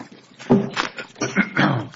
and Consumer Protection, Inc. v. Alabama Department of Revenue, Inc. v. Alabama Department of Labor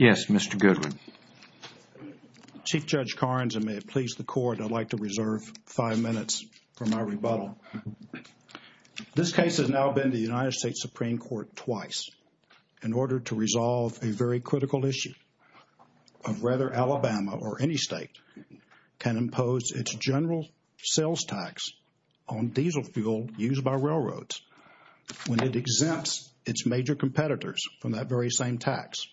Mr. Goodwin. Chief Judge Carnes, and may it please the Court, I'd like to reserve five minutes for my rebuttal. This case has now been to the United States Supreme Court twice in order to resolve a very critical issue of whether Alabama or any state can impose its general sales tax on diesel fuel used by railroads when it exempts its major competitors from that very same tax.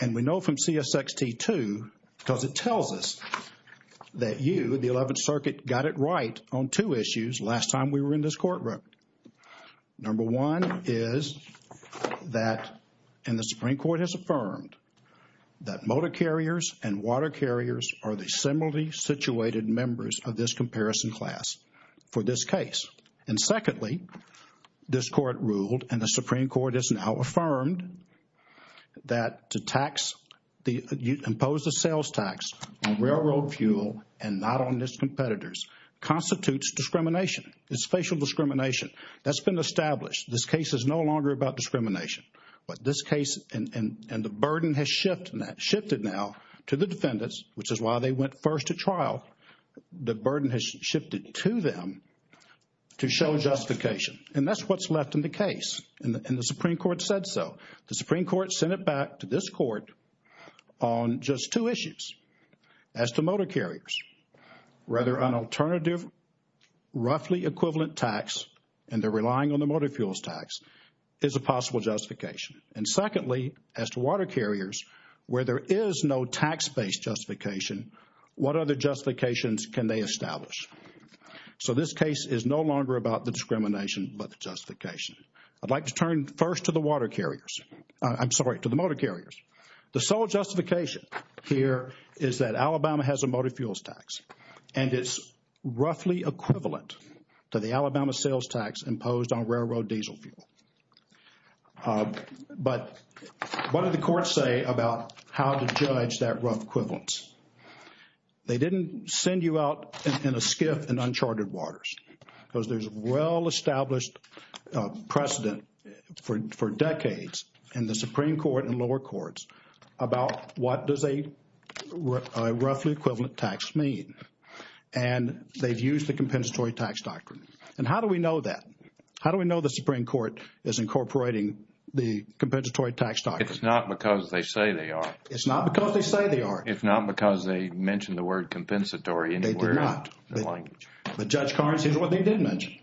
And we know from CSXT, too, because it tells us that you, the Eleventh Circuit, got it right on two issues last time we were in this courtroom. Number one is that, and the Supreme Court has affirmed, that motor carriers and water carriers are the similarly situated members of this comparison class for this case. And secondly, this Court ruled, and the Supreme Court has now affirmed, that to impose the sales tax on railroad fuel and not on its competitors constitutes discrimination. It's facial discrimination. That's been established. This case is no longer about discrimination. But this case, and the burden has shifted now to the defendants, which is why they went first to trial. The burden has shifted to them to show justification. And that's what's left in the case. And the Supreme Court said so. The Supreme Court sent it back to this Court on just two issues. As to motor carriers, rather an alternative, roughly equivalent tax, and they're relying on the motor fuels tax, is a possible justification. And secondly, as to water carriers, where there is no tax-based justification, what other justifications can they establish? So this case is no longer about the discrimination, but the justification. I'd like to turn first to the water carriers. I'm sorry, to the motor carriers. The sole justification here is that Alabama has a motor fuels tax, and it's roughly equivalent to the Alabama sales tax imposed on railroad diesel fuel. But what do the courts say about how to judge that rough equivalent? They didn't send you out in a skiff in uncharted waters, because there's well-established precedent for decades in the Supreme Court and lower courts about what does a roughly equivalent tax mean. And they've used the compensatory tax doctrine. And how do we know that? How do we know the Supreme Court is incorporating the compensatory tax doctrine? It's not because they say they are. It's not because they say they are. It's not because they mentioned the word compensatory anywhere in the language. They did not. But Judge Carnes, here's what they did mention,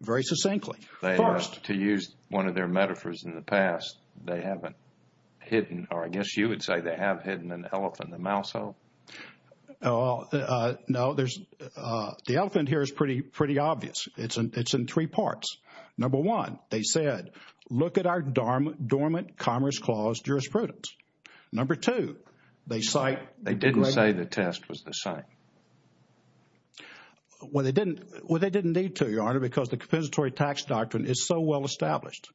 very succinctly. They used to use one of their metaphors in the past. They haven't hidden, or I guess you would say they have hidden an elephant in the mouse hole. No, the elephant here is pretty obvious. It's in three parts. Number one, they said, look at our dormant Commerce Clause jurisprudence. Number two, they cite... They didn't say the test was the same. Well, they didn't need to, Your Honor, because the compensatory tax doctrine is so well-established.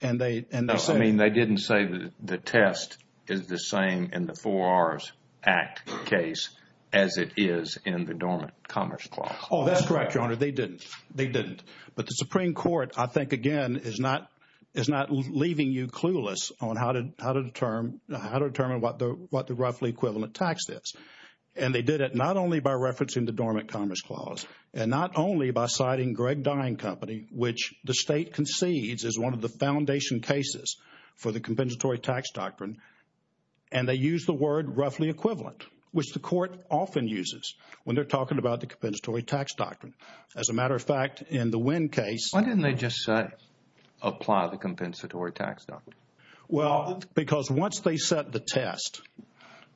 And they... No, I mean, they didn't say that the test is the same in the Four R's Act case as it is in the dormant Commerce Clause. Oh, that's correct, Your Honor. They didn't. They didn't. But the Supreme Court, I think, again, is not leaving you clueless on how to determine what the roughly equivalent tax is. And they did it not only by referencing the dormant Commerce Clause, and not only by citing Greg Dine Company, which the State concedes is one of the foundation cases for the compensatory tax doctrine, and they used the word roughly equivalent, which the Court often uses when they're talking about the compensatory tax doctrine. As a matter of fact, in the Winn case... Why didn't they just say, apply the compensatory tax doctrine? Well, because once they set the test,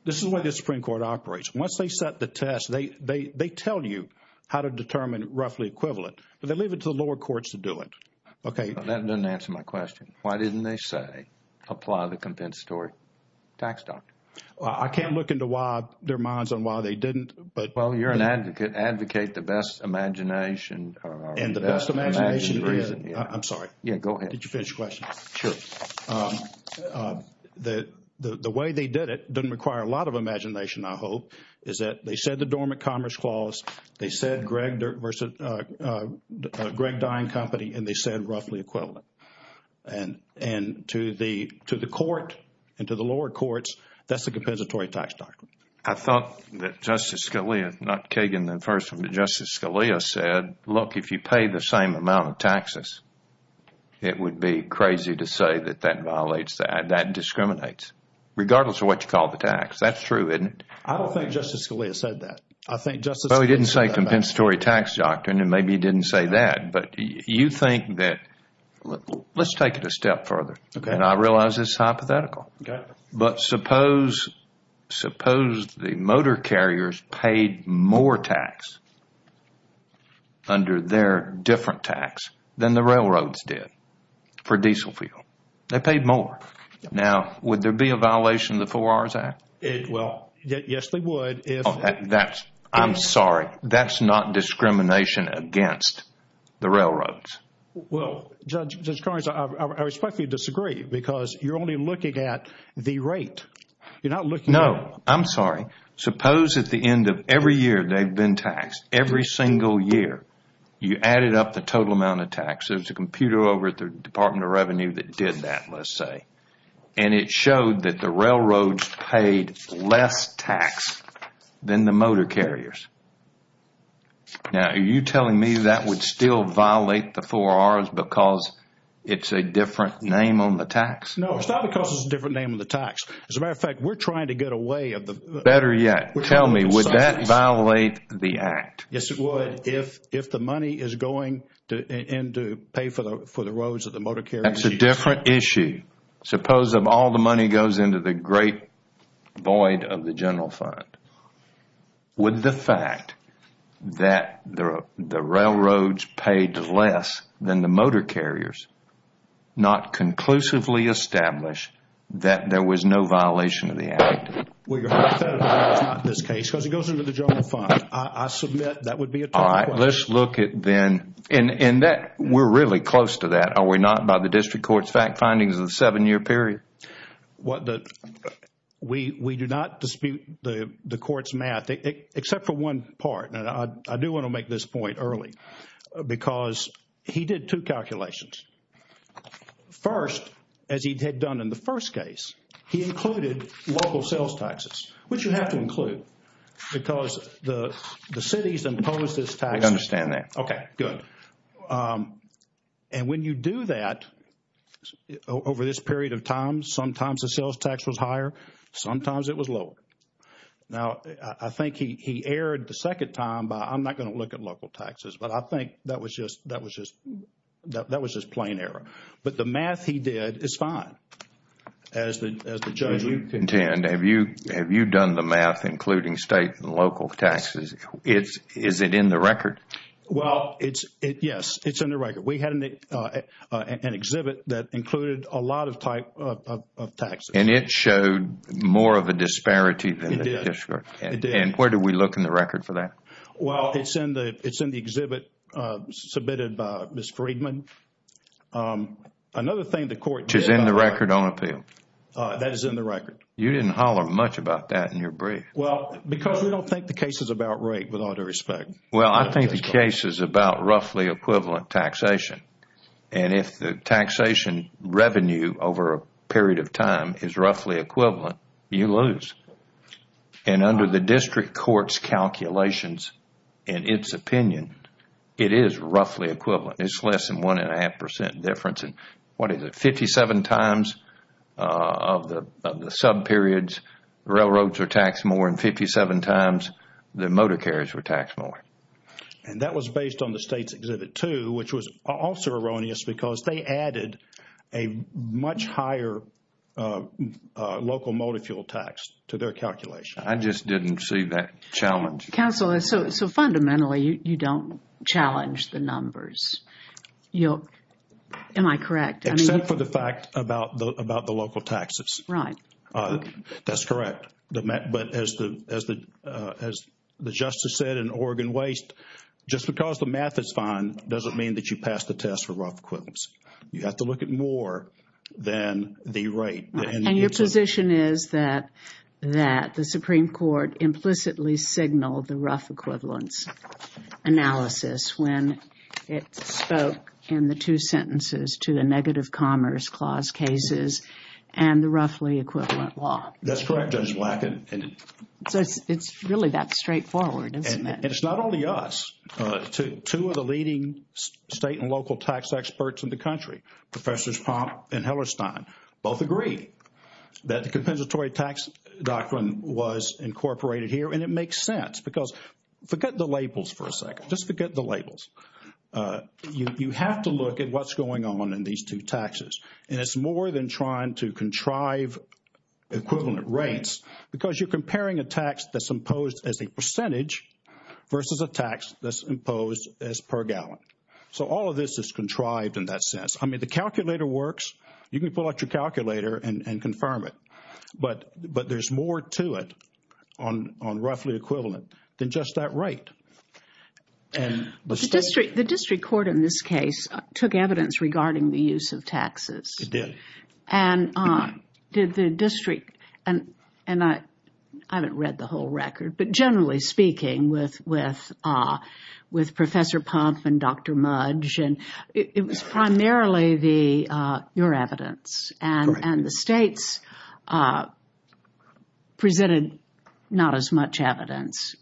this is the way the Supreme Court operates. Once they set the test, they tell you how to determine roughly equivalent, but they leave it to the lower courts to do it. Okay? Well, that doesn't answer my question. Why didn't they say, apply the compensatory tax doctrine? I can't look into why their minds on why they didn't, but... Well, you're an advocate. Advocate the best imagination... And the best imagination is... I'm sorry. Yeah, go ahead. Did you finish your question? Sure. The way they did it doesn't require a lot of imagination, I hope, is that they said the dormant Commerce Clause, they said Greg Dine Company, and they said roughly equivalent. And to the Court and to the lower courts, that's the compensatory tax doctrine. I thought that Justice Scalia, not Kagan then first, but Justice Scalia said, look, if you pay the same amount of taxes, it would be crazy to say that that violates that, that discriminates, regardless of what you call the tax. That's true, isn't it? I don't think Justice Scalia said that. I think Justice Scalia said that. Well, he didn't say compensatory tax doctrine, and maybe he didn't say that. But you think that... Let's take it a step further. And I realize this is hypothetical. But suppose the motor carriers paid more tax under their different tax than the railroads did for diesel fuel. They paid more. Now, would there be a violation of the Four Hours Act? Well, yes, they would if... I'm sorry. That's not discrimination against the railroads. Well, Judge Carnes, I respectfully disagree, because you're only looking at the rate. You're not looking... No, I'm sorry. Suppose at the end of every year they've been taxed, every single year, you added up the total amount of tax. There's a computer over at the Department of Revenue that did that, let's say. And it showed that the railroads paid less tax than the motor carriers. Now, are you telling me that would still violate the Four Hours because it's a different name on the tax? No, it's not because it's a different name on the tax. As a matter of fact, we're trying to get away of the... Better yet, tell me, would that violate the Act? Yes, it would if the money is going to pay for the roads that the motor carriers use. That's a different issue. Suppose if all the money goes into the great void of the general fund, would the fact that the railroads paid less than the motor carriers not conclusively establish that there was no violation of the Act? Well, your Honor, if that is not the case, because it goes into the general fund, I submit that would be a total violation. All right, let's look at then... And we're really close to that, are we not, by the district court's fact findings of the seven-year period? We do not dispute the court's math, except for one part, and I do want to make this point early, because he did two calculations. First, as he had done in the first case, he included local sales taxes, which you have to include, because the cities impose this tax. I understand that. Okay, good. And when you do that, over this period of time, sometimes the sales tax was higher, sometimes it was lower. Now, I think he erred the second time by, I'm not going to look at local taxes, but I think that was just plain error. But the math he did is fine, as the judge... Judge, you contend, have you done the math, including state and local taxes? Is it in the record? Well, yes, it's in the record. We had an exhibit that included a lot of taxes. And it showed more of a disparity than the district. It did, it did. And where do we look in the record for that? Well, it's in the exhibit submitted by Ms. Friedman. Another thing the court did... Which is in the record on appeal. That is in the record. You didn't holler much about that in your brief. Well, because we don't think the case is about rate, with all due respect. Well, I think the case is about roughly equivalent taxation. And if the taxation revenue over a period of time is roughly equivalent, you lose. And under the district court's calculations in its opinion, it is roughly equivalent. It's less than one and a half percent difference. What is it, 57 times of the sub-periods, railroads were taxed more, and 57 times the motor carriers were taxed more. And that was based on the state's exhibit too, which was also erroneous because they didn't compare the entire local motor fuel tax to their calculation. I just didn't see that challenge. Counsel, so fundamentally, you don't challenge the numbers. Am I correct? Except for the fact about the local taxes. Right. That's correct. But as the justice said in Oregon Waste, just because the math is fine doesn't mean that you pass the test for rough equivalence. You have to look at more than the rate. And your position is that the Supreme Court implicitly signaled the rough equivalence analysis when it spoke in the two sentences to the negative commerce clause cases and the roughly equivalent law. That's correct, Judge Black. It's really that straightforward, isn't it? And it's not only us. Two of the leading state and local tax experts in the country, Professors Pomp and Hellerstein, both agree that the compensatory tax doctrine was incorporated here and it makes sense because, forget the labels for a second, just forget the labels. You have to look at what's going on in these two taxes. And it's more than trying to contrive equivalent rates because you're comparing a tax that's versus a tax that's imposed as per gallon. So all of this is contrived in that sense. I mean, the calculator works. You can pull out your calculator and confirm it. But there's more to it on roughly equivalent than just that rate. The district court in this case took evidence regarding the use of taxes. It did. And did the district, and I haven't read the whole record, but generally speaking with Professor Pomp and Dr. Mudge, it was primarily your evidence and the states presented not as much evidence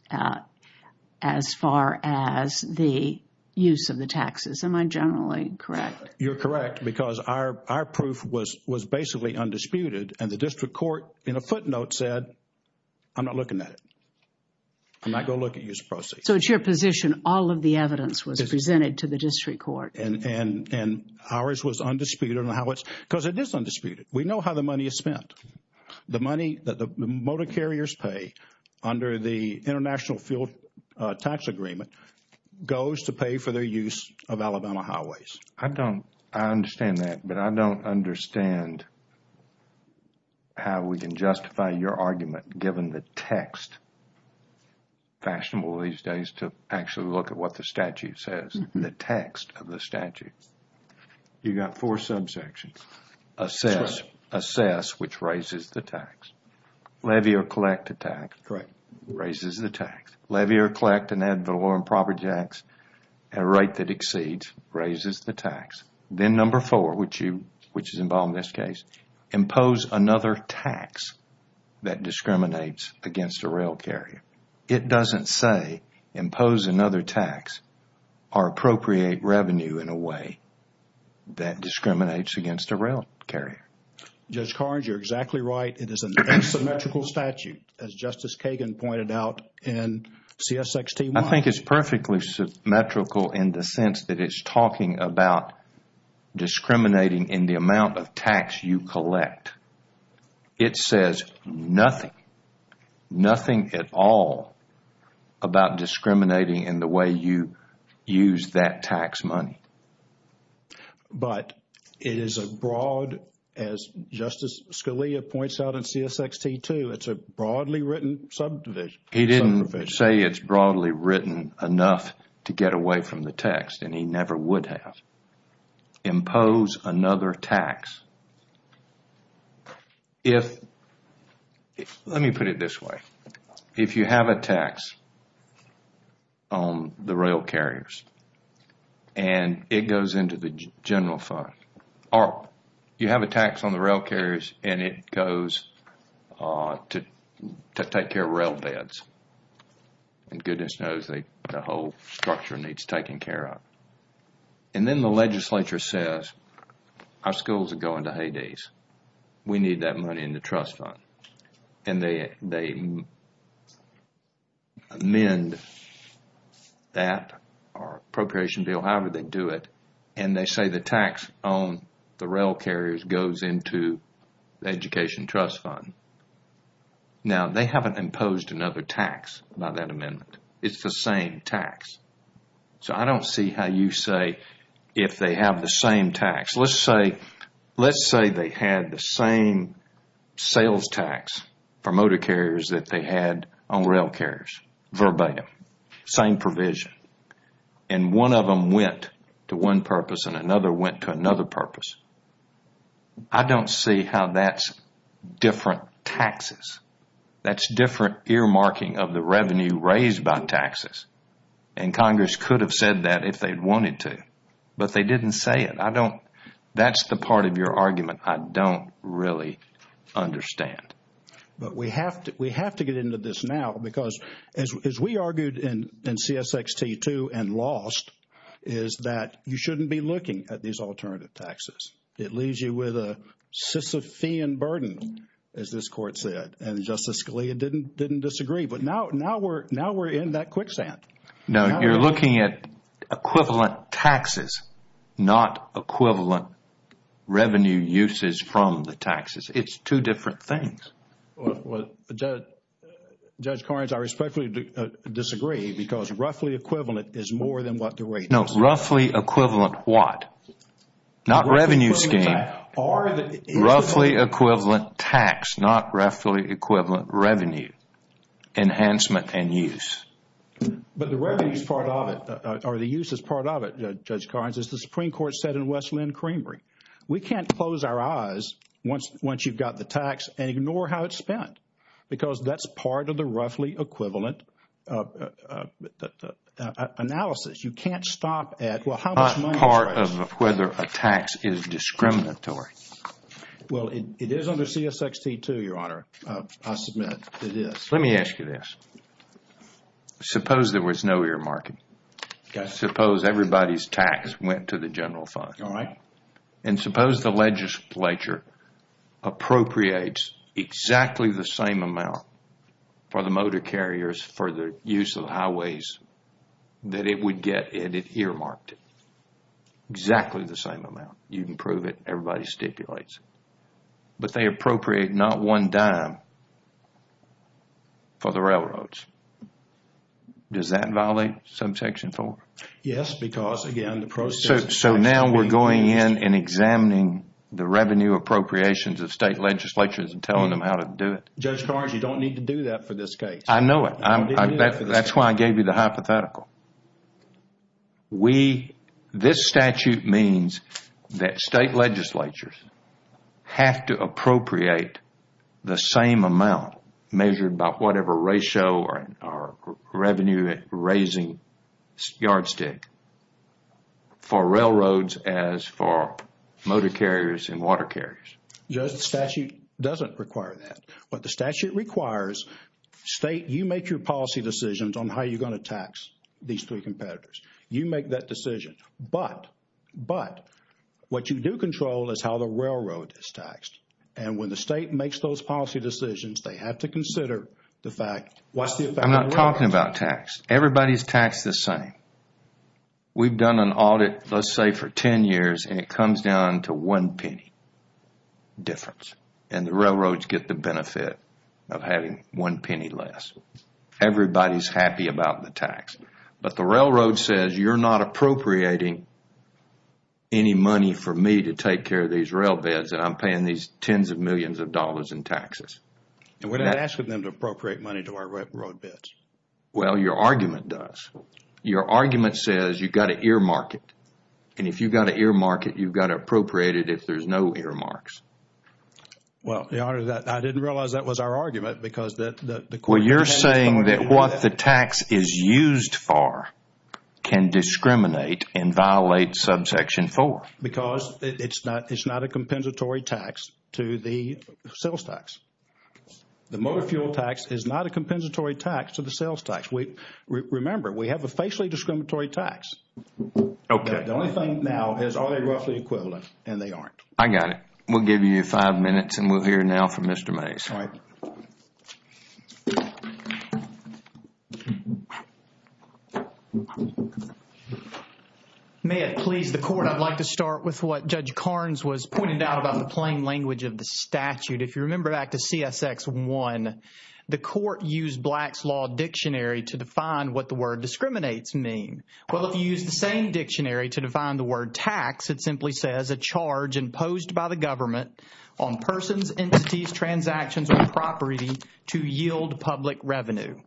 as far as the use of the taxes. Am I generally correct? You're correct because our proof was basically undisputed and the district court in a footnote said I'm not looking at it. I'm not going to look at use of proceeds. So it's your position all of the evidence was presented to the district court. And ours was undisputed because it is undisputed. We know how the money is spent. The money that the motor carriers pay under the international fuel tax agreement goes to pay for their use of Alabama highways. I don't, I understand that, but I don't understand how we can justify your argument given the text, fashionable these days to actually look at what the statute says, the text of the statute. You got four subsections. Assess, which raises the tax. Levy or collect a tax, raises the tax. Levy or collect an amount that exceeds, raises the tax. Then number four, which is involved in this case. Impose another tax that discriminates against a rail carrier. It doesn't say impose another tax or appropriate revenue in a way that discriminates against a rail carrier. Judge Carnes, you're exactly right. It is an asymmetrical statute as Justice Kagan pointed out in CSX-T1. I think it's perfectly symmetrical in the sense that it's talking about discriminating in the amount of tax you collect. It says nothing, nothing at all about discriminating in the way you use that tax money. But it is a broad, as Justice Scalia points out in CSX-T2, it's a broadly written subdivision. He didn't say it's broadly written enough to get away from the text and he never would have. Impose another tax. Let me put it this way. If you have a tax on the rail carriers and it goes into the general fund or you have a tax on the rail carriers and it goes to take care of rail beds, then goodness knows the whole structure needs taken care of. And then the legislature says our schools are going to Hades. We need that money in the trust fund. And they amend that or appropriation bill, however they do it, and they say the tax on the rail carriers goes into the education trust fund. Now they haven't imposed another tax by that amendment. It's the same tax. So I don't see how you say if they have the same tax. Let's say they had the same sales tax for motor carriers that they had on rail carriers, verbatim, same provision. And one of them went to one purpose and another went to another purpose. I don't see how that's different taxes. That's different earmarking of the revenue raised by taxes. And Congress could have said that if they wanted to. But they didn't say it. That's the part of your argument I don't really understand. But we have to get into this now because as we argued in CSXT, too, and lost, is that you shouldn't be looking at these alternative taxes. It leaves you with a Sisyphean burden, as this Court said. And Justice Scalia didn't disagree. But now we're in that quicksand. No, you're looking at equivalent taxes, not equivalent revenue uses from the taxes. It's two different things. Well, Judge Korins, I respectfully disagree because roughly equivalent is more than what the rate is. No, roughly equivalent what? Not revenue scheme. Roughly equivalent tax, not roughly equivalent revenue enhancement and use. But the revenue is part of it, or the use is part of it, Judge Korins, as the Supreme Court said in Wesleyan Creamery. We can't close our eyes once you've got the tax and ignore how it's spent because that's part of the roughly equivalent analysis. You can't stop at, well, how much money is raised? It's not part of whether a tax is discriminatory. Well, it is under CSXT, too, Your Honor. I submit it is. Let me ask you this. Suppose there was no earmarking. Suppose everybody's tax went to the general fund. And suppose the legislature appropriates exactly the same amount for the motor carriers for the use of the highways that it would get if it earmarked it. Exactly the same amount. You can prove it. Everybody stipulates it. But they appropriate not one dime for the railroads. Does that violate Subsection 4? Yes, because again, the process... So now we're going in and examining the revenue appropriations of state legislatures and telling them how to do it? Judge Carrs, you don't need to do that for this case. I know it. That's why I gave you the hypothetical. This statute means that state legislatures have to appropriate the same amount measured by whatever ratio or revenue raising yardstick for railroads as for motor carriers and water carriers. Judge, the statute doesn't require that. What the statute requires, state, you make your policy decisions on how you're going to tax these three competitors. You make that decision. But, but what you do control is how the railroad is taxed. And when the state makes those policy decisions, they have to consider the fact, what's the effect on the railroad? I'm not talking about tax. Everybody's taxed the same. We've done an audit, let's say, for 10 years, and it comes down to one penny difference. And the railroads get the benefit of having one penny less. Everybody's happy about the tax. But the railroad says, you're not appropriating any money for me to take care of these railbeds, and I'm paying these tens of millions of dollars in taxes. And we're not asking them to appropriate money to our railroad bids. Well, your argument does. Your argument says you've got to earmark it. And if you've got to earmark it, you've got to appropriate it if there's no earmarks. Well, Your Honor, I didn't realize that was our argument because the court- Well, you're saying that what the tax is used for can discriminate and violate subsection 4. Because it's not a compensatory tax to the sales tax. The motor fuel tax is not a compensatory tax to the sales tax. Remember, we have a facially discriminatory tax. Okay. The only thing now is are they roughly equivalent, and they aren't. I got it. We'll give you five minutes, and we'll hear now from Mr. Mays. All right. May it please the Court, I'd like to start with what Judge Karnes was pointing out about the plain language of the statute. If you remember back to CSX 1, the court used Black's Law Dictionary to define what the word discriminates mean. Well, if you use the same dictionary to define the word tax, it simply says, a charge imposed by the government on persons, entities, transactions, or property to yield public revenue.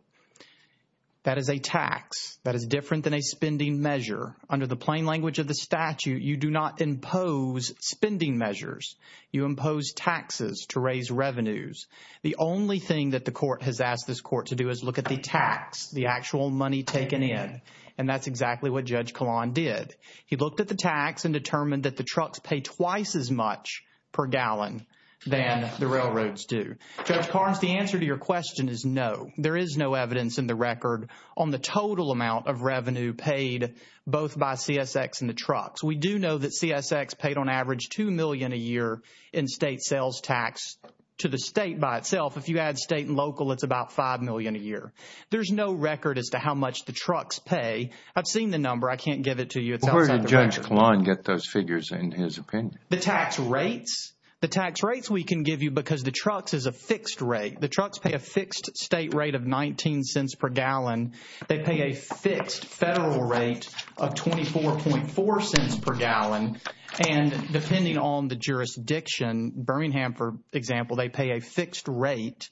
That is a tax. That is different than a spending measure. Under the plain language of the statute, you do not impose spending measures. You impose taxes to raise revenues. The only thing that the court has asked this court to do is look at the tax, the actual money taken in. And that's exactly what Judge Kahlon did. He looked at the tax and determined that the trucks pay twice as much per gallon than the railroads do. Judge Karnes, the answer to your question is no. There is no evidence in the record on the total amount of revenue paid both by CSX and the trucks. We do know that CSX paid on average $2 million a year in state sales tax to the state by itself. If you add state and local, it's about $5 million a year. There's no record as to how much the trucks pay. I've seen the number. I can't give it to you. It's outside the record. Where did Judge Kahlon get those figures in his opinion? The tax rates. The tax rates we can give you because the trucks is a they pay a fixed federal rate of $0.244 per gallon. And depending on the jurisdiction, Birmingham for example, they pay a fixed rate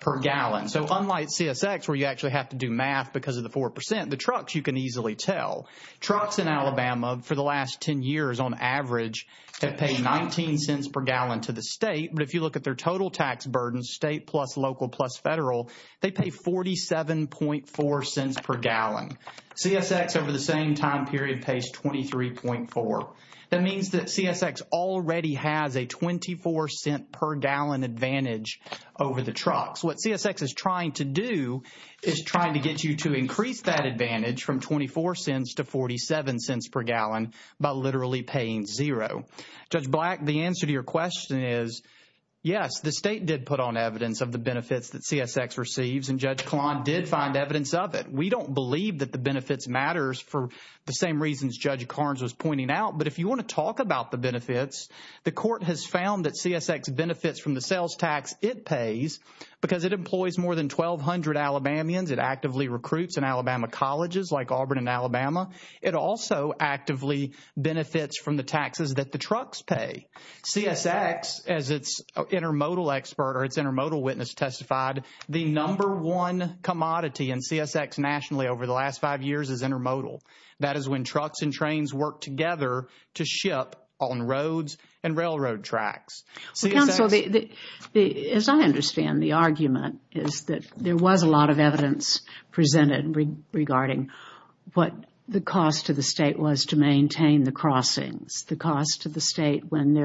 per gallon. So unlike CSX where you actually have to do math because of the 4%, the trucks you can easily tell. Trucks in Alabama for the last 10 years on average have paid $0.19 per gallon to the state. But if you look at their total tax state plus local plus federal, they pay $0.474 per gallon. CSX over the same time period pays $23.4. That means that CSX already has a $0.24 per gallon advantage over the trucks. What CSX is trying to do is trying to get you to increase that advantage from $0.24 to $0.47 per gallon by literally paying $0. Judge Black, the answer to your question is yes, the state did put on evidence of the benefits that CSX receives and Judge Kahlon did find evidence of it. We don't believe that the benefits matters for the same reasons Judge Carnes was pointing out. But if you want to talk about the benefits, the court has found that CSX benefits from the sales tax it pays because it employs more than 1,200 Alabamians. It actively recruits in Alabama colleges like Auburn and pay. CSX, as its intermodal expert or its intermodal witness testified, the number one commodity in CSX nationally over the last five years is intermodal. That is when trucks and trains work together to ship on roads and railroad tracks. Counsel, as I understand the argument is that there was a lot of evidence presented regarding what the cost to the state was to when there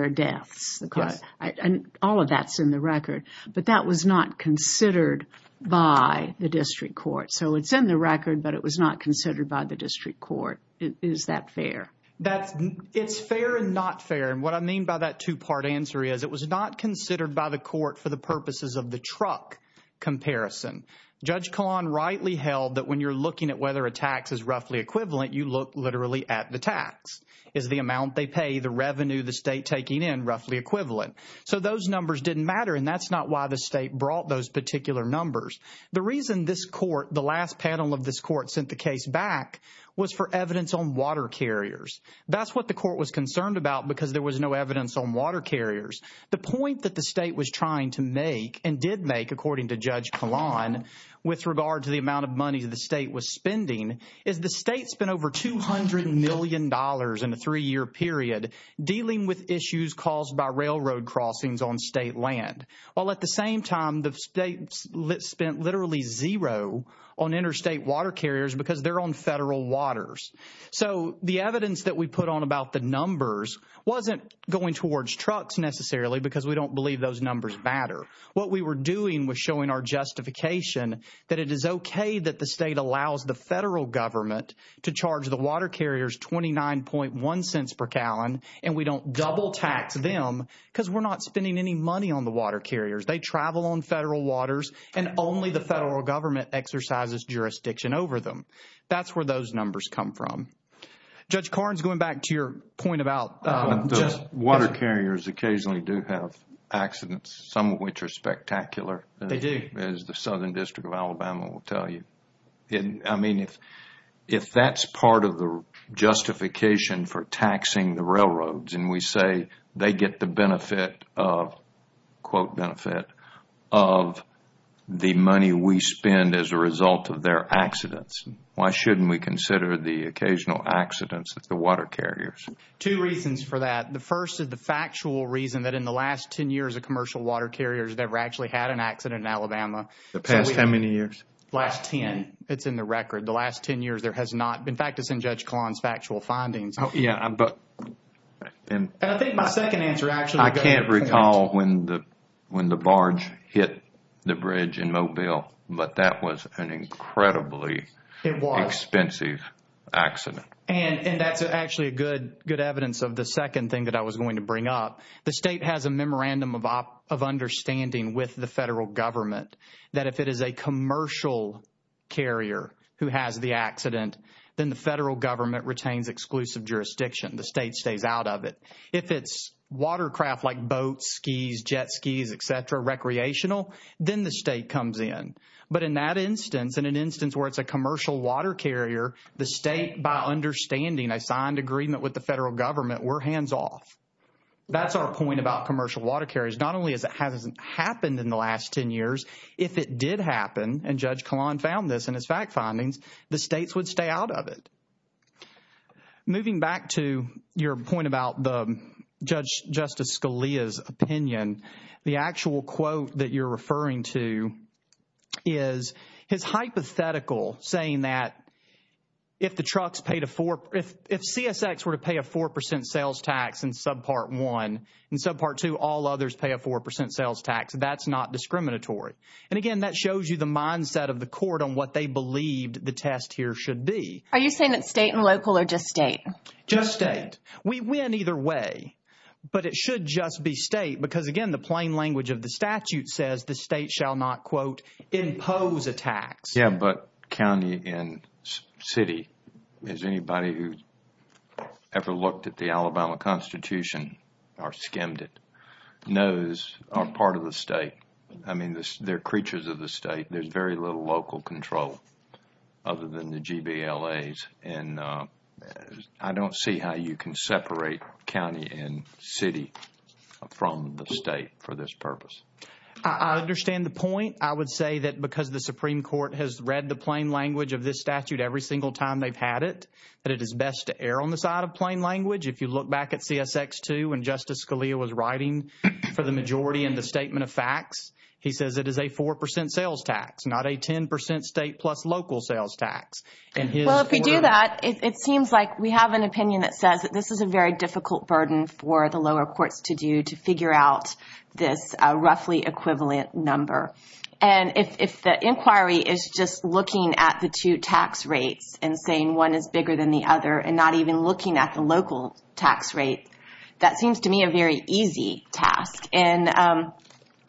are deaths. And all of that is in the record. But that was not considered by the district court. So it's in the record, but it was not considered by the district court. Is that fair? It's fair and not fair. And what I mean by that two-part answer is it was not considered by the court for the purposes of the truck comparison. Judge Kahlon rightly held that when you're looking at whether a tax is roughly equivalent, you look literally at the tax. Is the amount they pay, the revenue the state taking in roughly equivalent. So those numbers didn't matter. And that's not why the state brought those particular numbers. The reason this court, the last panel of this court sent the case back was for evidence on water carriers. That's what the court was concerned about because there was no evidence on water carriers. The point that the state was trying to make and did make according to Judge Kahlon with regard to the amount of money the state was spending is the state spent over $200 million in a three-year period dealing with issues caused by railroad crossings on state land. While at the same time, the state spent literally zero on interstate water carriers because they're on federal waters. So the evidence that we put on about the numbers wasn't going towards trucks necessarily because we don't believe those numbers matter. What we were doing was showing our justification that it is okay that the state allows the federal government to charge the water carriers $0.291 per gallon and we don't double tax them because we're not spending any money on the water carriers. They travel on federal waters and only the federal government exercises jurisdiction over them. That's where those numbers come from. Judge Karns, going back to your point about... Water carriers occasionally do have accidents, some of which are spectacular. As the Southern District of Alabama will tell you. If that's part of the justification for taxing the railroads and we say they get the benefit of the money we spend as a result of their accidents, why shouldn't we consider the occasional accidents of the water carriers? Two reasons for that. The first is the factual reason that in the last 10 years, commercial water carriers never actually had an accident in Alabama. The past how many years? Last 10. It's in the record. The last 10 years there has not been... In fact, it's in Judge Karns' factual findings. And I think my second answer actually... I can't recall when the barge hit the bridge in Mobile, but that was an incredibly expensive accident. And that's actually a good evidence of the second thing that I was going to bring up. The state has a memorandum of understanding with the federal government that if it is a commercial carrier who has the accident, then the federal government retains exclusive jurisdiction. The state stays out of it. If it's watercraft like boats, skis, jet skis, et cetera, recreational, then the state comes in. But in that instance, in an instance where it's a commercial water carrier, the state, by understanding a signed agreement with the federal government, we're hands off. That's our point about commercial water carriers. Not only has it hasn't happened in the last 10 years, if it did happen, and Judge Kahlon found this in his fact findings, the states would stay out of it. Moving back to your point about the Judge Justice Scalia's opinion, the actual quote that you're referring to is his hypothetical saying that if the trucks paid a four, if CSX were to pay a 4% sales tax in subpart one, in subpart two, all others pay a 4% sales tax, that's not discriminatory. And again, that shows you the mindset of the court on what they believed the test here should be. Are you saying that state and local or just state? Just state. We win either way, but it should just be state because again, the plain language of the statute says the state shall not, quote, impose a tax. Yeah, but county and city, as anybody who ever looked at the Alabama Constitution or skimmed it, knows are part of the state. I mean, they're creatures of the state. There's very little local control other than the GBLAs. And I don't see how you can separate county and city from the state for this purpose. I understand the point. I would say that because the Supreme Court has read the plain language of this statute every single time they've had it, that it is best to err on the side of plain language. If you look back at CSX2, when Justice Scalia was writing for the majority in the statement of facts, he says it is a 4% sales tax, not a 10% state plus local sales tax. Well, if you do that, it seems like we have an opinion that says that this is a very difficult burden for the lower courts to do to figure out this roughly equivalent number. And if the inquiry is just looking at the two tax rates and saying one is bigger than the other and not even looking at the local tax rate, that seems to me a very easy task. And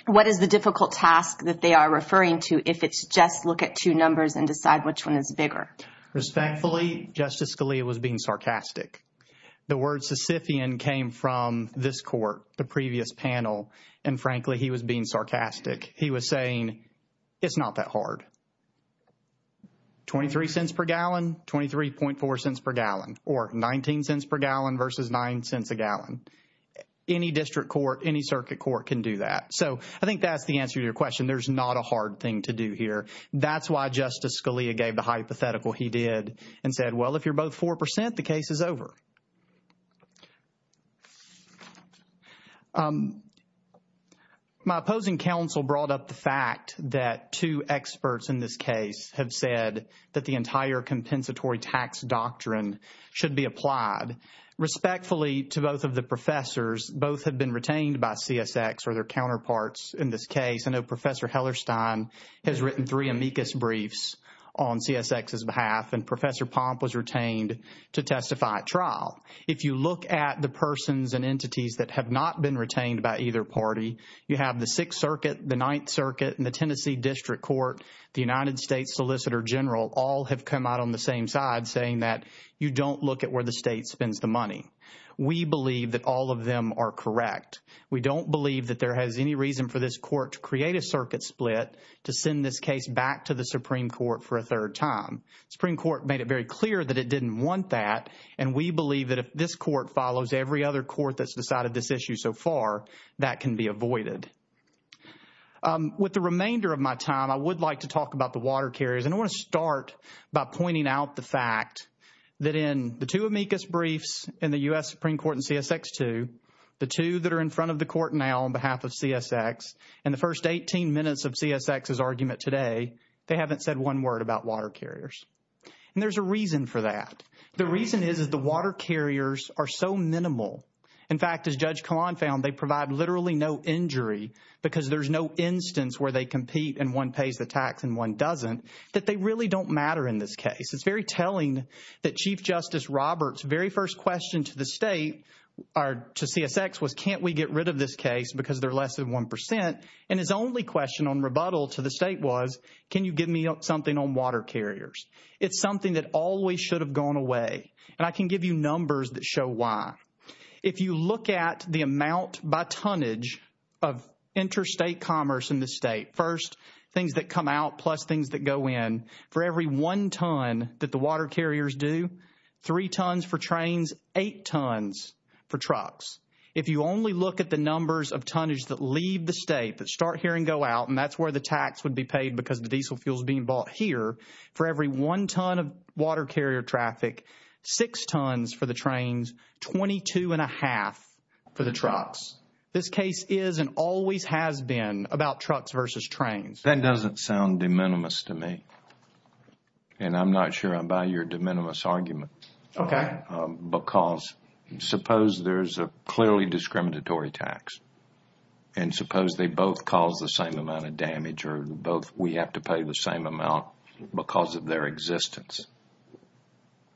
what is the difficult task that they are referring to if it's just look at two numbers and decide which one is bigger? Respectfully, Justice Scalia was being sarcastic. The word Sisyphean came from this court, the previous panel, and frankly, he was being sarcastic. He was saying it's not that hard. 23 cents per gallon, 23.4 cents per gallon or 19 cents per gallon versus 9 cents a gallon. Any district court, any circuit court can do that. So I think that's the answer to your question. There's not a hard thing to do here. That's why Justice Scalia gave the hypothetical he did and said, well, if you're both 4%, the case is over. My opposing counsel brought up the fact that two experts in this case have said that the entire compensatory tax doctrine should be applied. Respectfully to both of the professors, both have been retained by CSX or their counterparts in this case. I know Professor Hellerstein has written three amicus briefs on CSX's behalf, and Professor Pomp was retained to testify at trial. If you look at the persons and entities that have not been retained by either party, you have the Sixth Circuit, the Ninth Circuit, and the Tennessee District Court, the United States Solicitor General, all have come out on the same side saying that you don't look at where the state spends the money. We believe that all of them are correct. We don't believe that there has any reason for this court to create a circuit split to send this case back to the Supreme Court for a third time. The Supreme Court made it very clear that it didn't want that, and we believe that if this court follows every other court that's decided this issue so far, that can be avoided. With the remainder of my time, I would like to that in the two amicus briefs in the U.S. Supreme Court and CSX 2, the two that are in front of the court now on behalf of CSX, and the first 18 minutes of CSX's argument today, they haven't said one word about water carriers. And there's a reason for that. The reason is, is the water carriers are so minimal. In fact, as Judge Kahlon found, they provide literally no injury because there's no instance where they compete and one pays the tax and one doesn't, that they really don't matter in this case. It's very telling that Chief Justice Roberts' very first question to the state, or to CSX, was can't we get rid of this case because they're less than one percent, and his only question on rebuttal to the state was, can you give me something on water carriers? It's something that always should have gone away, and I can give you numbers that show why. If you look at the amount by tonnage of interstate commerce in the state, first things that come out plus things that go in, for every one ton that the water carriers do, three tons for trains, eight tons for trucks. If you only look at the numbers of tonnage that leave the state, that start here and go out, and that's where the tax would be paid because the diesel fuel is being bought here, for every one ton of water carrier traffic, six tons for the trains, 22 and a half for the trucks. This case is and always has been about trucks versus trains. That doesn't sound de minimis to me, and I'm not sure I buy your de minimis argument. Okay. Because suppose there's a clearly discriminatory tax, and suppose they both cause the same amount of damage, or both we have to pay the same amount because of their existence,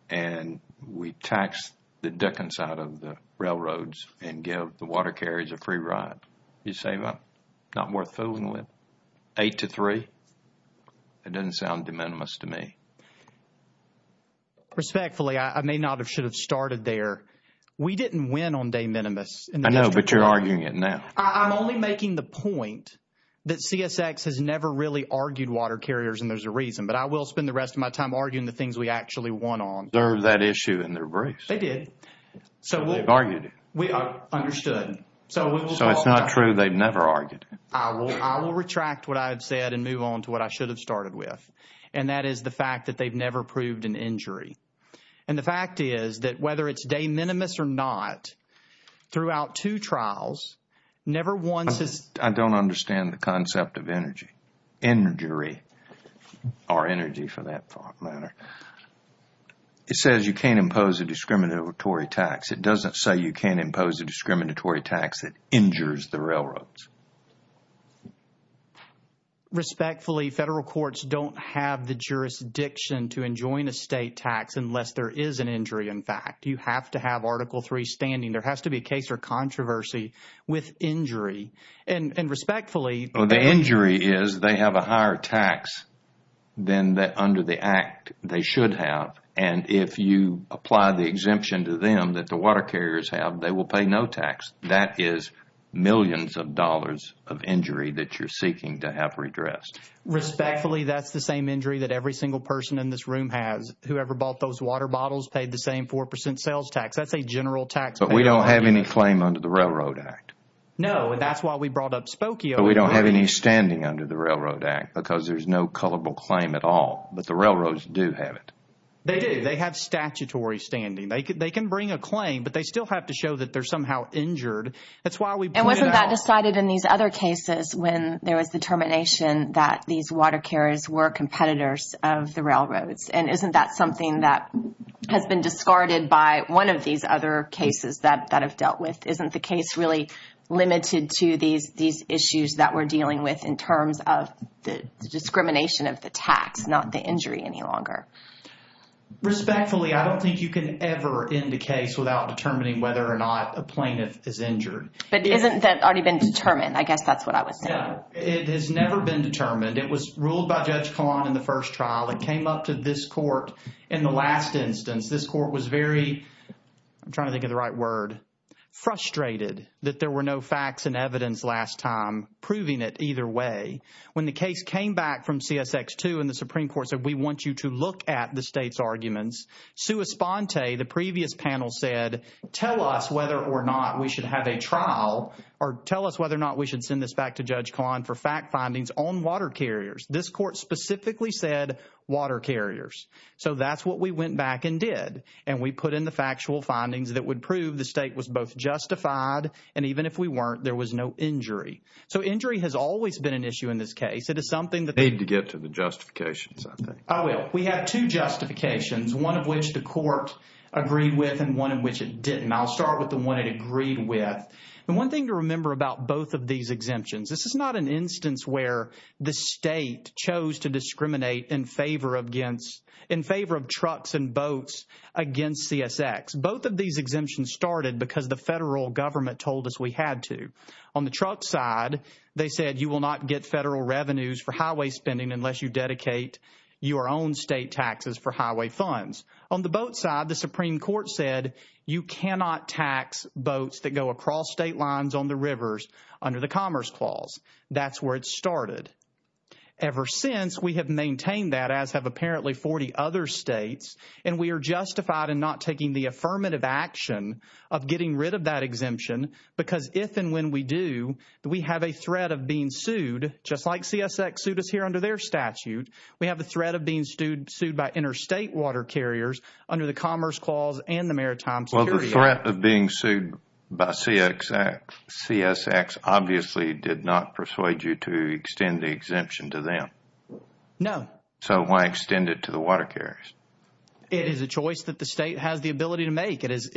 and we tax the dickens out of the railroads and give water carriers a free ride. You say, well, not worth fooling with. Eight to three? It doesn't sound de minimis to me. Respectfully, I may not have should have started there. We didn't win on de minimis. I know, but you're arguing it now. I'm only making the point that CSX has never really argued water carriers, and there's a reason, but I will spend the rest of my time arguing the things we actually won on. They're that issue in their briefs. They did. So they've argued it. We understood. So it's not true. They've never argued it. I will retract what I've said and move on to what I should have started with, and that is the fact that they've never proved an injury, and the fact is that whether it's de minimis or not, throughout two trials, never once has... I don't understand the concept of energy, injury, or energy for that matter. It says you can't impose a discriminatory tax. It doesn't say you can't impose a discriminatory tax that injures the railroads. Respectfully, federal courts don't have the jurisdiction to enjoin a state tax unless there is an injury, in fact. You have to have Article III standing. There has to be a case or controversy with injury, and respectfully... The injury is they have a higher tax than under the act they should have, and if you apply the exemption to them that the water carriers have, they will pay no tax. That is millions of dollars of injury that you're seeking to have redressed. Respectfully, that's the same injury that every single person in this room has. Whoever bought those water bottles paid the same 4% sales tax. That's a general tax... But we don't have any claim under the Railroad Act. No, and that's why we brought up Spokio... But we don't have any standing under the Railroad Act because there's no culpable claim at all, but the railroads do have it. They do. They have statutory standing. They can bring a claim, but they still have to show that they're somehow injured. That's why we... And wasn't that decided in these other cases when there was determination that these water carriers were competitors of the railroads? And isn't that something that has been discarded by one of these other cases that have dealt with? Isn't the case really limited to these issues that we're dealing with in terms of the discrimination of the tax, not the injury any longer? Respectfully, I don't think you can ever end a case without determining whether or not a plaintiff is injured. But isn't that already been determined? I guess that's what I would say. It has never been determined. It was ruled by Judge Kahlon in the first trial. It came up to this court in the last instance. This court was very... I'm trying to think of the right word. Frustrated that there were no facts and evidence last time proving it either way. When the case came back from CSX2 and the Supreme Court said, we want you to look at the state's arguments, sua sponte, the previous panel said, tell us whether or not we should have a trial or tell us whether or not we should send this back to Judge Kahlon for fact findings on water carriers. This court specifically said water carriers. So that's what we went back and did. And we put in the factual findings that would prove the state was both justified and even if we weren't, there was no injury. So injury has always been an issue in this case. It is something that... Need to get to the justifications, I think. I will. We have two justifications, one of which the court agreed with and one of which it didn't. I'll start with the one it agreed with. And one about both of these exemptions. This is not an instance where the state chose to discriminate in favor of trucks and boats against CSX. Both of these exemptions started because the federal government told us we had to. On the truck side, they said you will not get federal revenues for highway spending unless you dedicate your own state taxes for highway funds. On the boat side, Supreme Court said you cannot tax boats that go across state lines on the rivers under the Commerce Clause. That's where it started. Ever since, we have maintained that, as have apparently 40 other states. And we are justified in not taking the affirmative action of getting rid of that exemption because if and when we do, we have a threat of being sued, just like CSX sued us here under their statute. We have a threat of being sued by interstate water carriers under the Commerce Clause and the Maritime Security Act. Well, the threat of being sued by CSX obviously did not persuade you to extend the exemption to them. No. So why extend it to the water carriers? It is a choice that the state has the ability to make. It is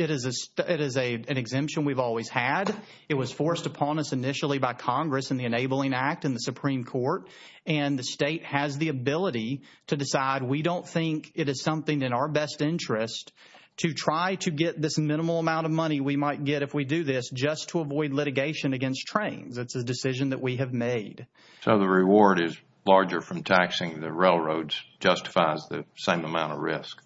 an exemption we've always had. It was forced upon us initially by Congress in the Enabling Act in the Supreme Court. And the state has the ability to decide we don't think it is something in our best interest to try to get this minimal amount of money we might get if we do this just to avoid litigation against trains. It's a decision that we have made. So the reward is larger from taxing the railroads justifies the same amount of risk.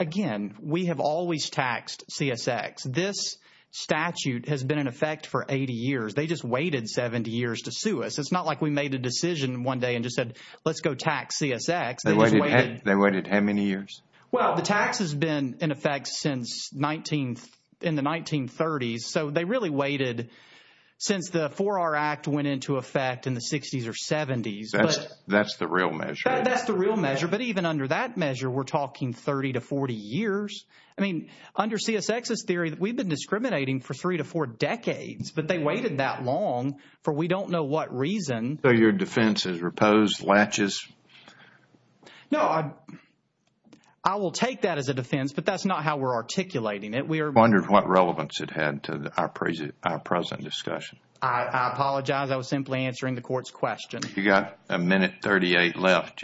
Again, we have always taxed CSX. This statute has been in effect for 80 years. They just waited 70 years to sue us. It's not like we made a decision one day and just said, let's go tax CSX. They waited how many years? Well, the tax has been in effect since in the 1930s. So they really waited since the 4R Act went into effect in the 60s or 70s. That's the real measure. That's the real measure. But even under that measure, we're talking 30 to 40 years. I mean, under CSX's theory, we've been discriminating for three to four decades, but they waited that long for we don't know what reason. So your defense is repose, latches? No, I will take that as a defense, but that's not how we're articulating it. We are wondering what relevance it had to our present discussion. I apologize. I was simply answering the court's question. You got a minute 38 left.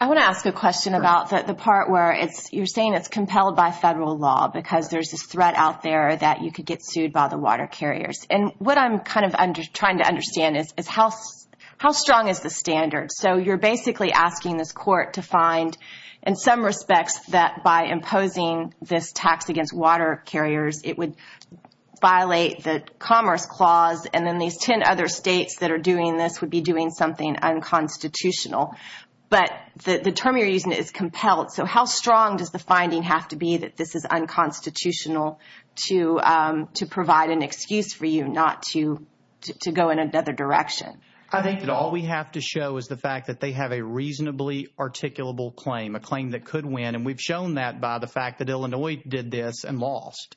I want to ask a question about the part where you're saying it's compelled by federal law because there's this threat out there that you could get sued by the water carriers. And what I'm kind of trying to understand is how strong is the standard? So you're basically asking this court to find, in some respects, that by imposing this tax against water carriers, it would violate the commerce clause. And then these 10 other states that are doing this would be doing something unconstitutional. But the term you're using is compelled. So how strong does finding have to be that this is unconstitutional to provide an excuse for you not to go in another direction? I think that all we have to show is the fact that they have a reasonably articulable claim, a claim that could win. And we've shown that by the fact that Illinois did this and lost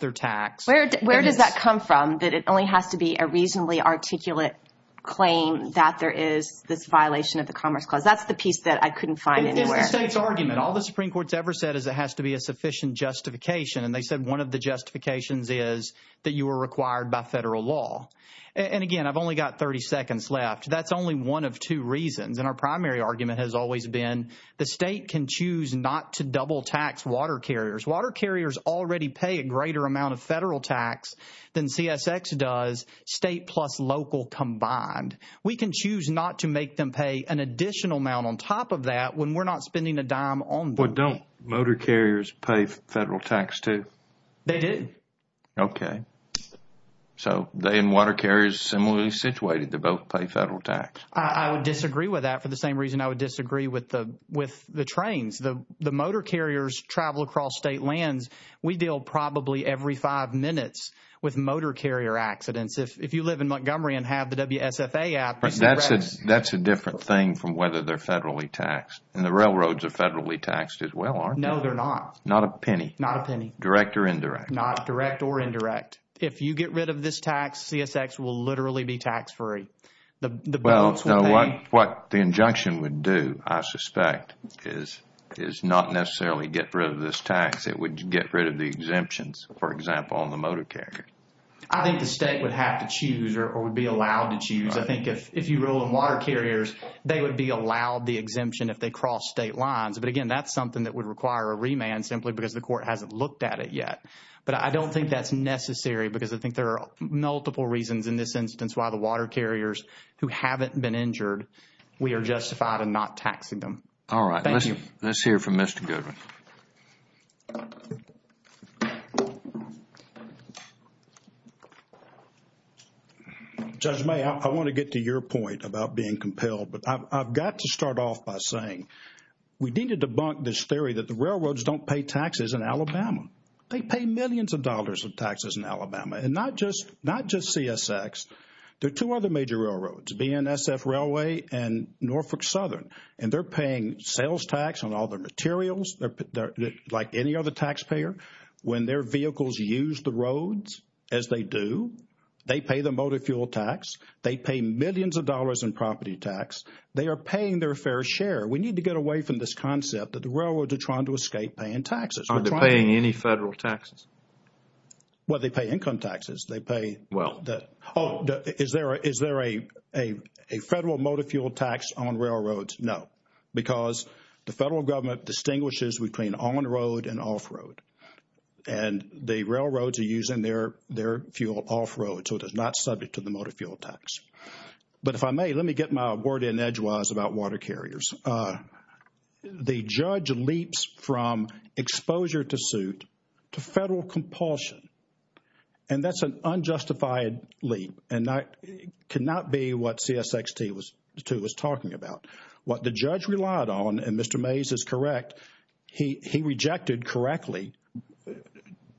their tax. Where does that come from, that it only has to be a reasonably articulate claim that there is this violation of the commerce clause? That's the piece that I ever said is it has to be a sufficient justification. And they said one of the justifications is that you were required by federal law. And again, I've only got 30 seconds left. That's only one of two reasons. And our primary argument has always been the state can choose not to double tax water carriers. Water carriers already pay a greater amount of federal tax than CSX does, state plus local combined. We can choose not to make them pay an additional amount on top of that when we're not spending a dime on them. But don't motor carriers pay federal tax too? They do. Okay. So they and water carriers are similarly situated. They both pay federal tax. I would disagree with that for the same reason I would disagree with the trains. The motor carriers travel across state lands. We deal probably every five minutes with motor carrier accidents. If you live in Montgomery and have the WSFA app. That's a different thing from whether they're federally taxed. And the railroads are federally taxed as well, aren't they? No, they're not. Not a penny? Not a penny. Direct or indirect? Not direct or indirect. If you get rid of this tax, CSX will literally be tax free. What the injunction would do, I suspect, is not necessarily get rid of this tax. It would get rid of the exemptions, for example, on the motor carrier. I think the state would have to choose or would be allowed to choose. I think if you rule in water carriers, they would be allowed the exemption if they crossed state lines. But again, that's something that would require a remand simply because the court hasn't looked at it yet. But I don't think that's necessary because I think there are multiple reasons in this instance why the water carriers who haven't been injured, we are justified in not taxing them. All right. Thank you. Let's hear from Mr. Goodwin. Judge May, I want to get to your point about being compelled, but I've got to start off by saying we need to debunk this theory that the railroads don't pay taxes in Alabama. They pay millions of dollars of taxes in Alabama and not just CSX. There are two other major railroads, BNSF Railway and Norfolk Southern, and they're paying sales tax on all their materials. Like any other taxpayer, when their vehicles use the roads, as they do, they pay the motor fuel tax. They pay millions of dollars in property tax. They are paying their fair share. We need to get away from this concept that the railroads are trying to escape paying taxes. Are they paying any federal taxes? Well, they pay income taxes. They pay... Is there a federal motor fuel tax on railroads? No, because the federal government distinguishes between on-road and off-road, and the railroads are using their fuel off-road, so it is not subject to the motor fuel tax. But if I may, let me get my word in edgewise about water carriers. The judge leaps from exposure to suit to federal compulsion, and that's an unjustified leap, and that could not be what CSXT was talking about. What the judge relied on, and Mr. Mays is correct, he rejected correctly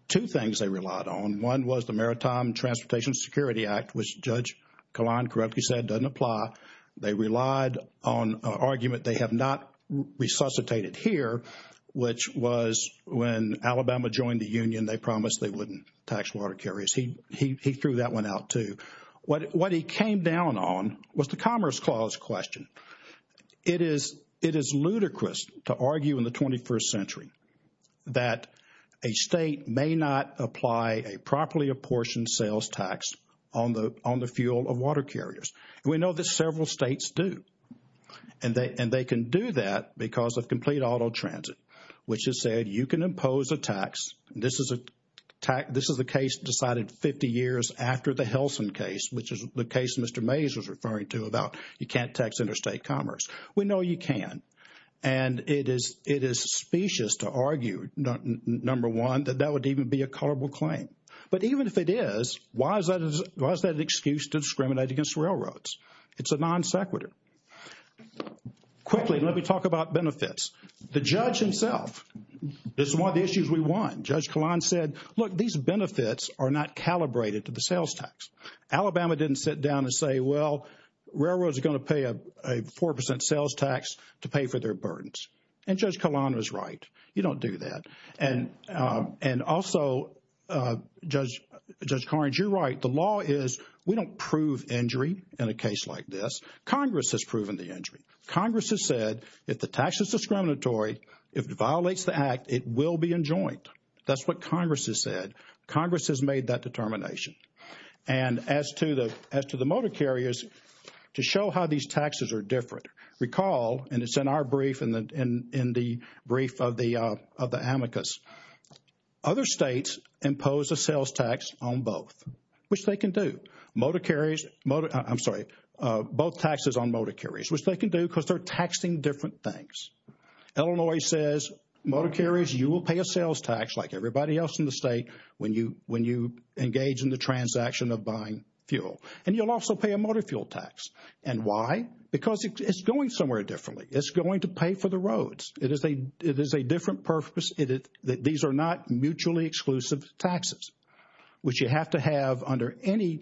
two things they relied on. One was the Maritime Transportation Security Act, which Judge Kalan Kerepke said doesn't apply. They relied on an argument they have not resuscitated here, which was when Alabama joined the union, they promised they wouldn't tax water carriers. He threw that one out too. What he came down on was the Commerce Clause question. It is ludicrous to argue in the 21st century that a state may not apply a properly apportioned sales tax on the fuel of water carriers, and we know that several states do, and they can do that because of complete auto transit, which has said you can impose a tax, and this is a case decided 50 years after the Helsin case, which is the case Mr. Mays was referring to about you can't tax interstate commerce. We know you can, and it is specious to argue, number one, that that would even be a culpable claim, but even if it is, why is that an excuse to discriminate against railroads? It's a non sequitur. Quickly, let me talk about benefits. The judge himself, this is one of the issues we won. Judge Kahlon said, look, these benefits are not calibrated to the sales tax. Alabama didn't sit down and say, well, railroads are going to pay a 4% sales tax to pay for their burdens, and Judge Kahlon was right. You don't do that, and also, Judge Karnage, you're right. The law is we don't prove injury in a case like this. Congress has if it violates the act, it will be enjoined. That's what Congress has said. Congress has made that determination, and as to the motor carriers, to show how these taxes are different, recall, and it's in our brief, in the brief of the amicus, other states impose a sales tax on both, which they can do. Motor carriers, I'm sorry, both taxes on motor carriers, which they can do because they're taxing different things. Illinois says, motor carriers, you will pay a sales tax like everybody else in the state when you engage in the transaction of buying fuel, and you'll also pay a motor fuel tax, and why? Because it's going somewhere differently. It's going to pay for the roads. It is a different purpose. These are not mutually exclusive taxes, which you have to have under any,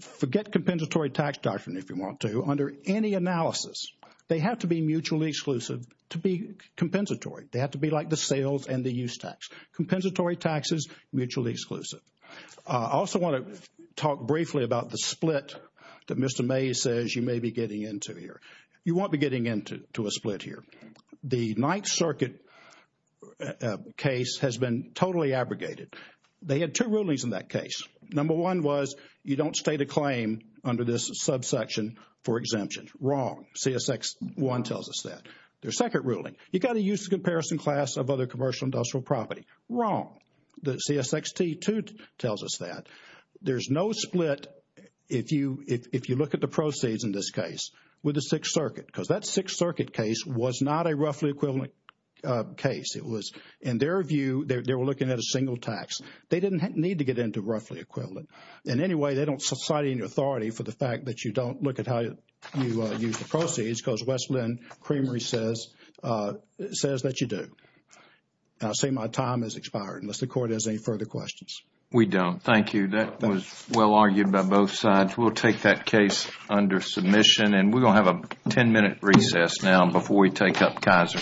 forget compensatory tax doctrine if you want to, under any analysis. They have to be mutually exclusive to be compensatory. They have to be like the sales and the use tax. Compensatory taxes, mutually exclusive. I also want to talk briefly about the split that Mr. May says you may be getting into here. You won't be getting into a split here. The Ninth Circuit case has been totally abrogated. They had two rulings in that case. Number one was you don't state a claim under this subsection for exemption. Wrong. CSX1 tells us that. Their second ruling, you got to use the comparison class of other commercial industrial property. Wrong. The CSXT2 tells us that. There's no split if you look at the proceeds in this case with the Sixth Circuit because that equivalent case. In their view, they were looking at a single tax. They didn't need to get into roughly equivalent. In any way, they don't cite any authority for the fact that you don't look at how you use the proceeds because Westland Creamery says that you do. I'll say my time has expired unless the Court has any further questions. We don't. Thank you. That was well argued by both sides. We'll take that case under submission and we're going to have a 10-minute recess now before we take up Kaiser.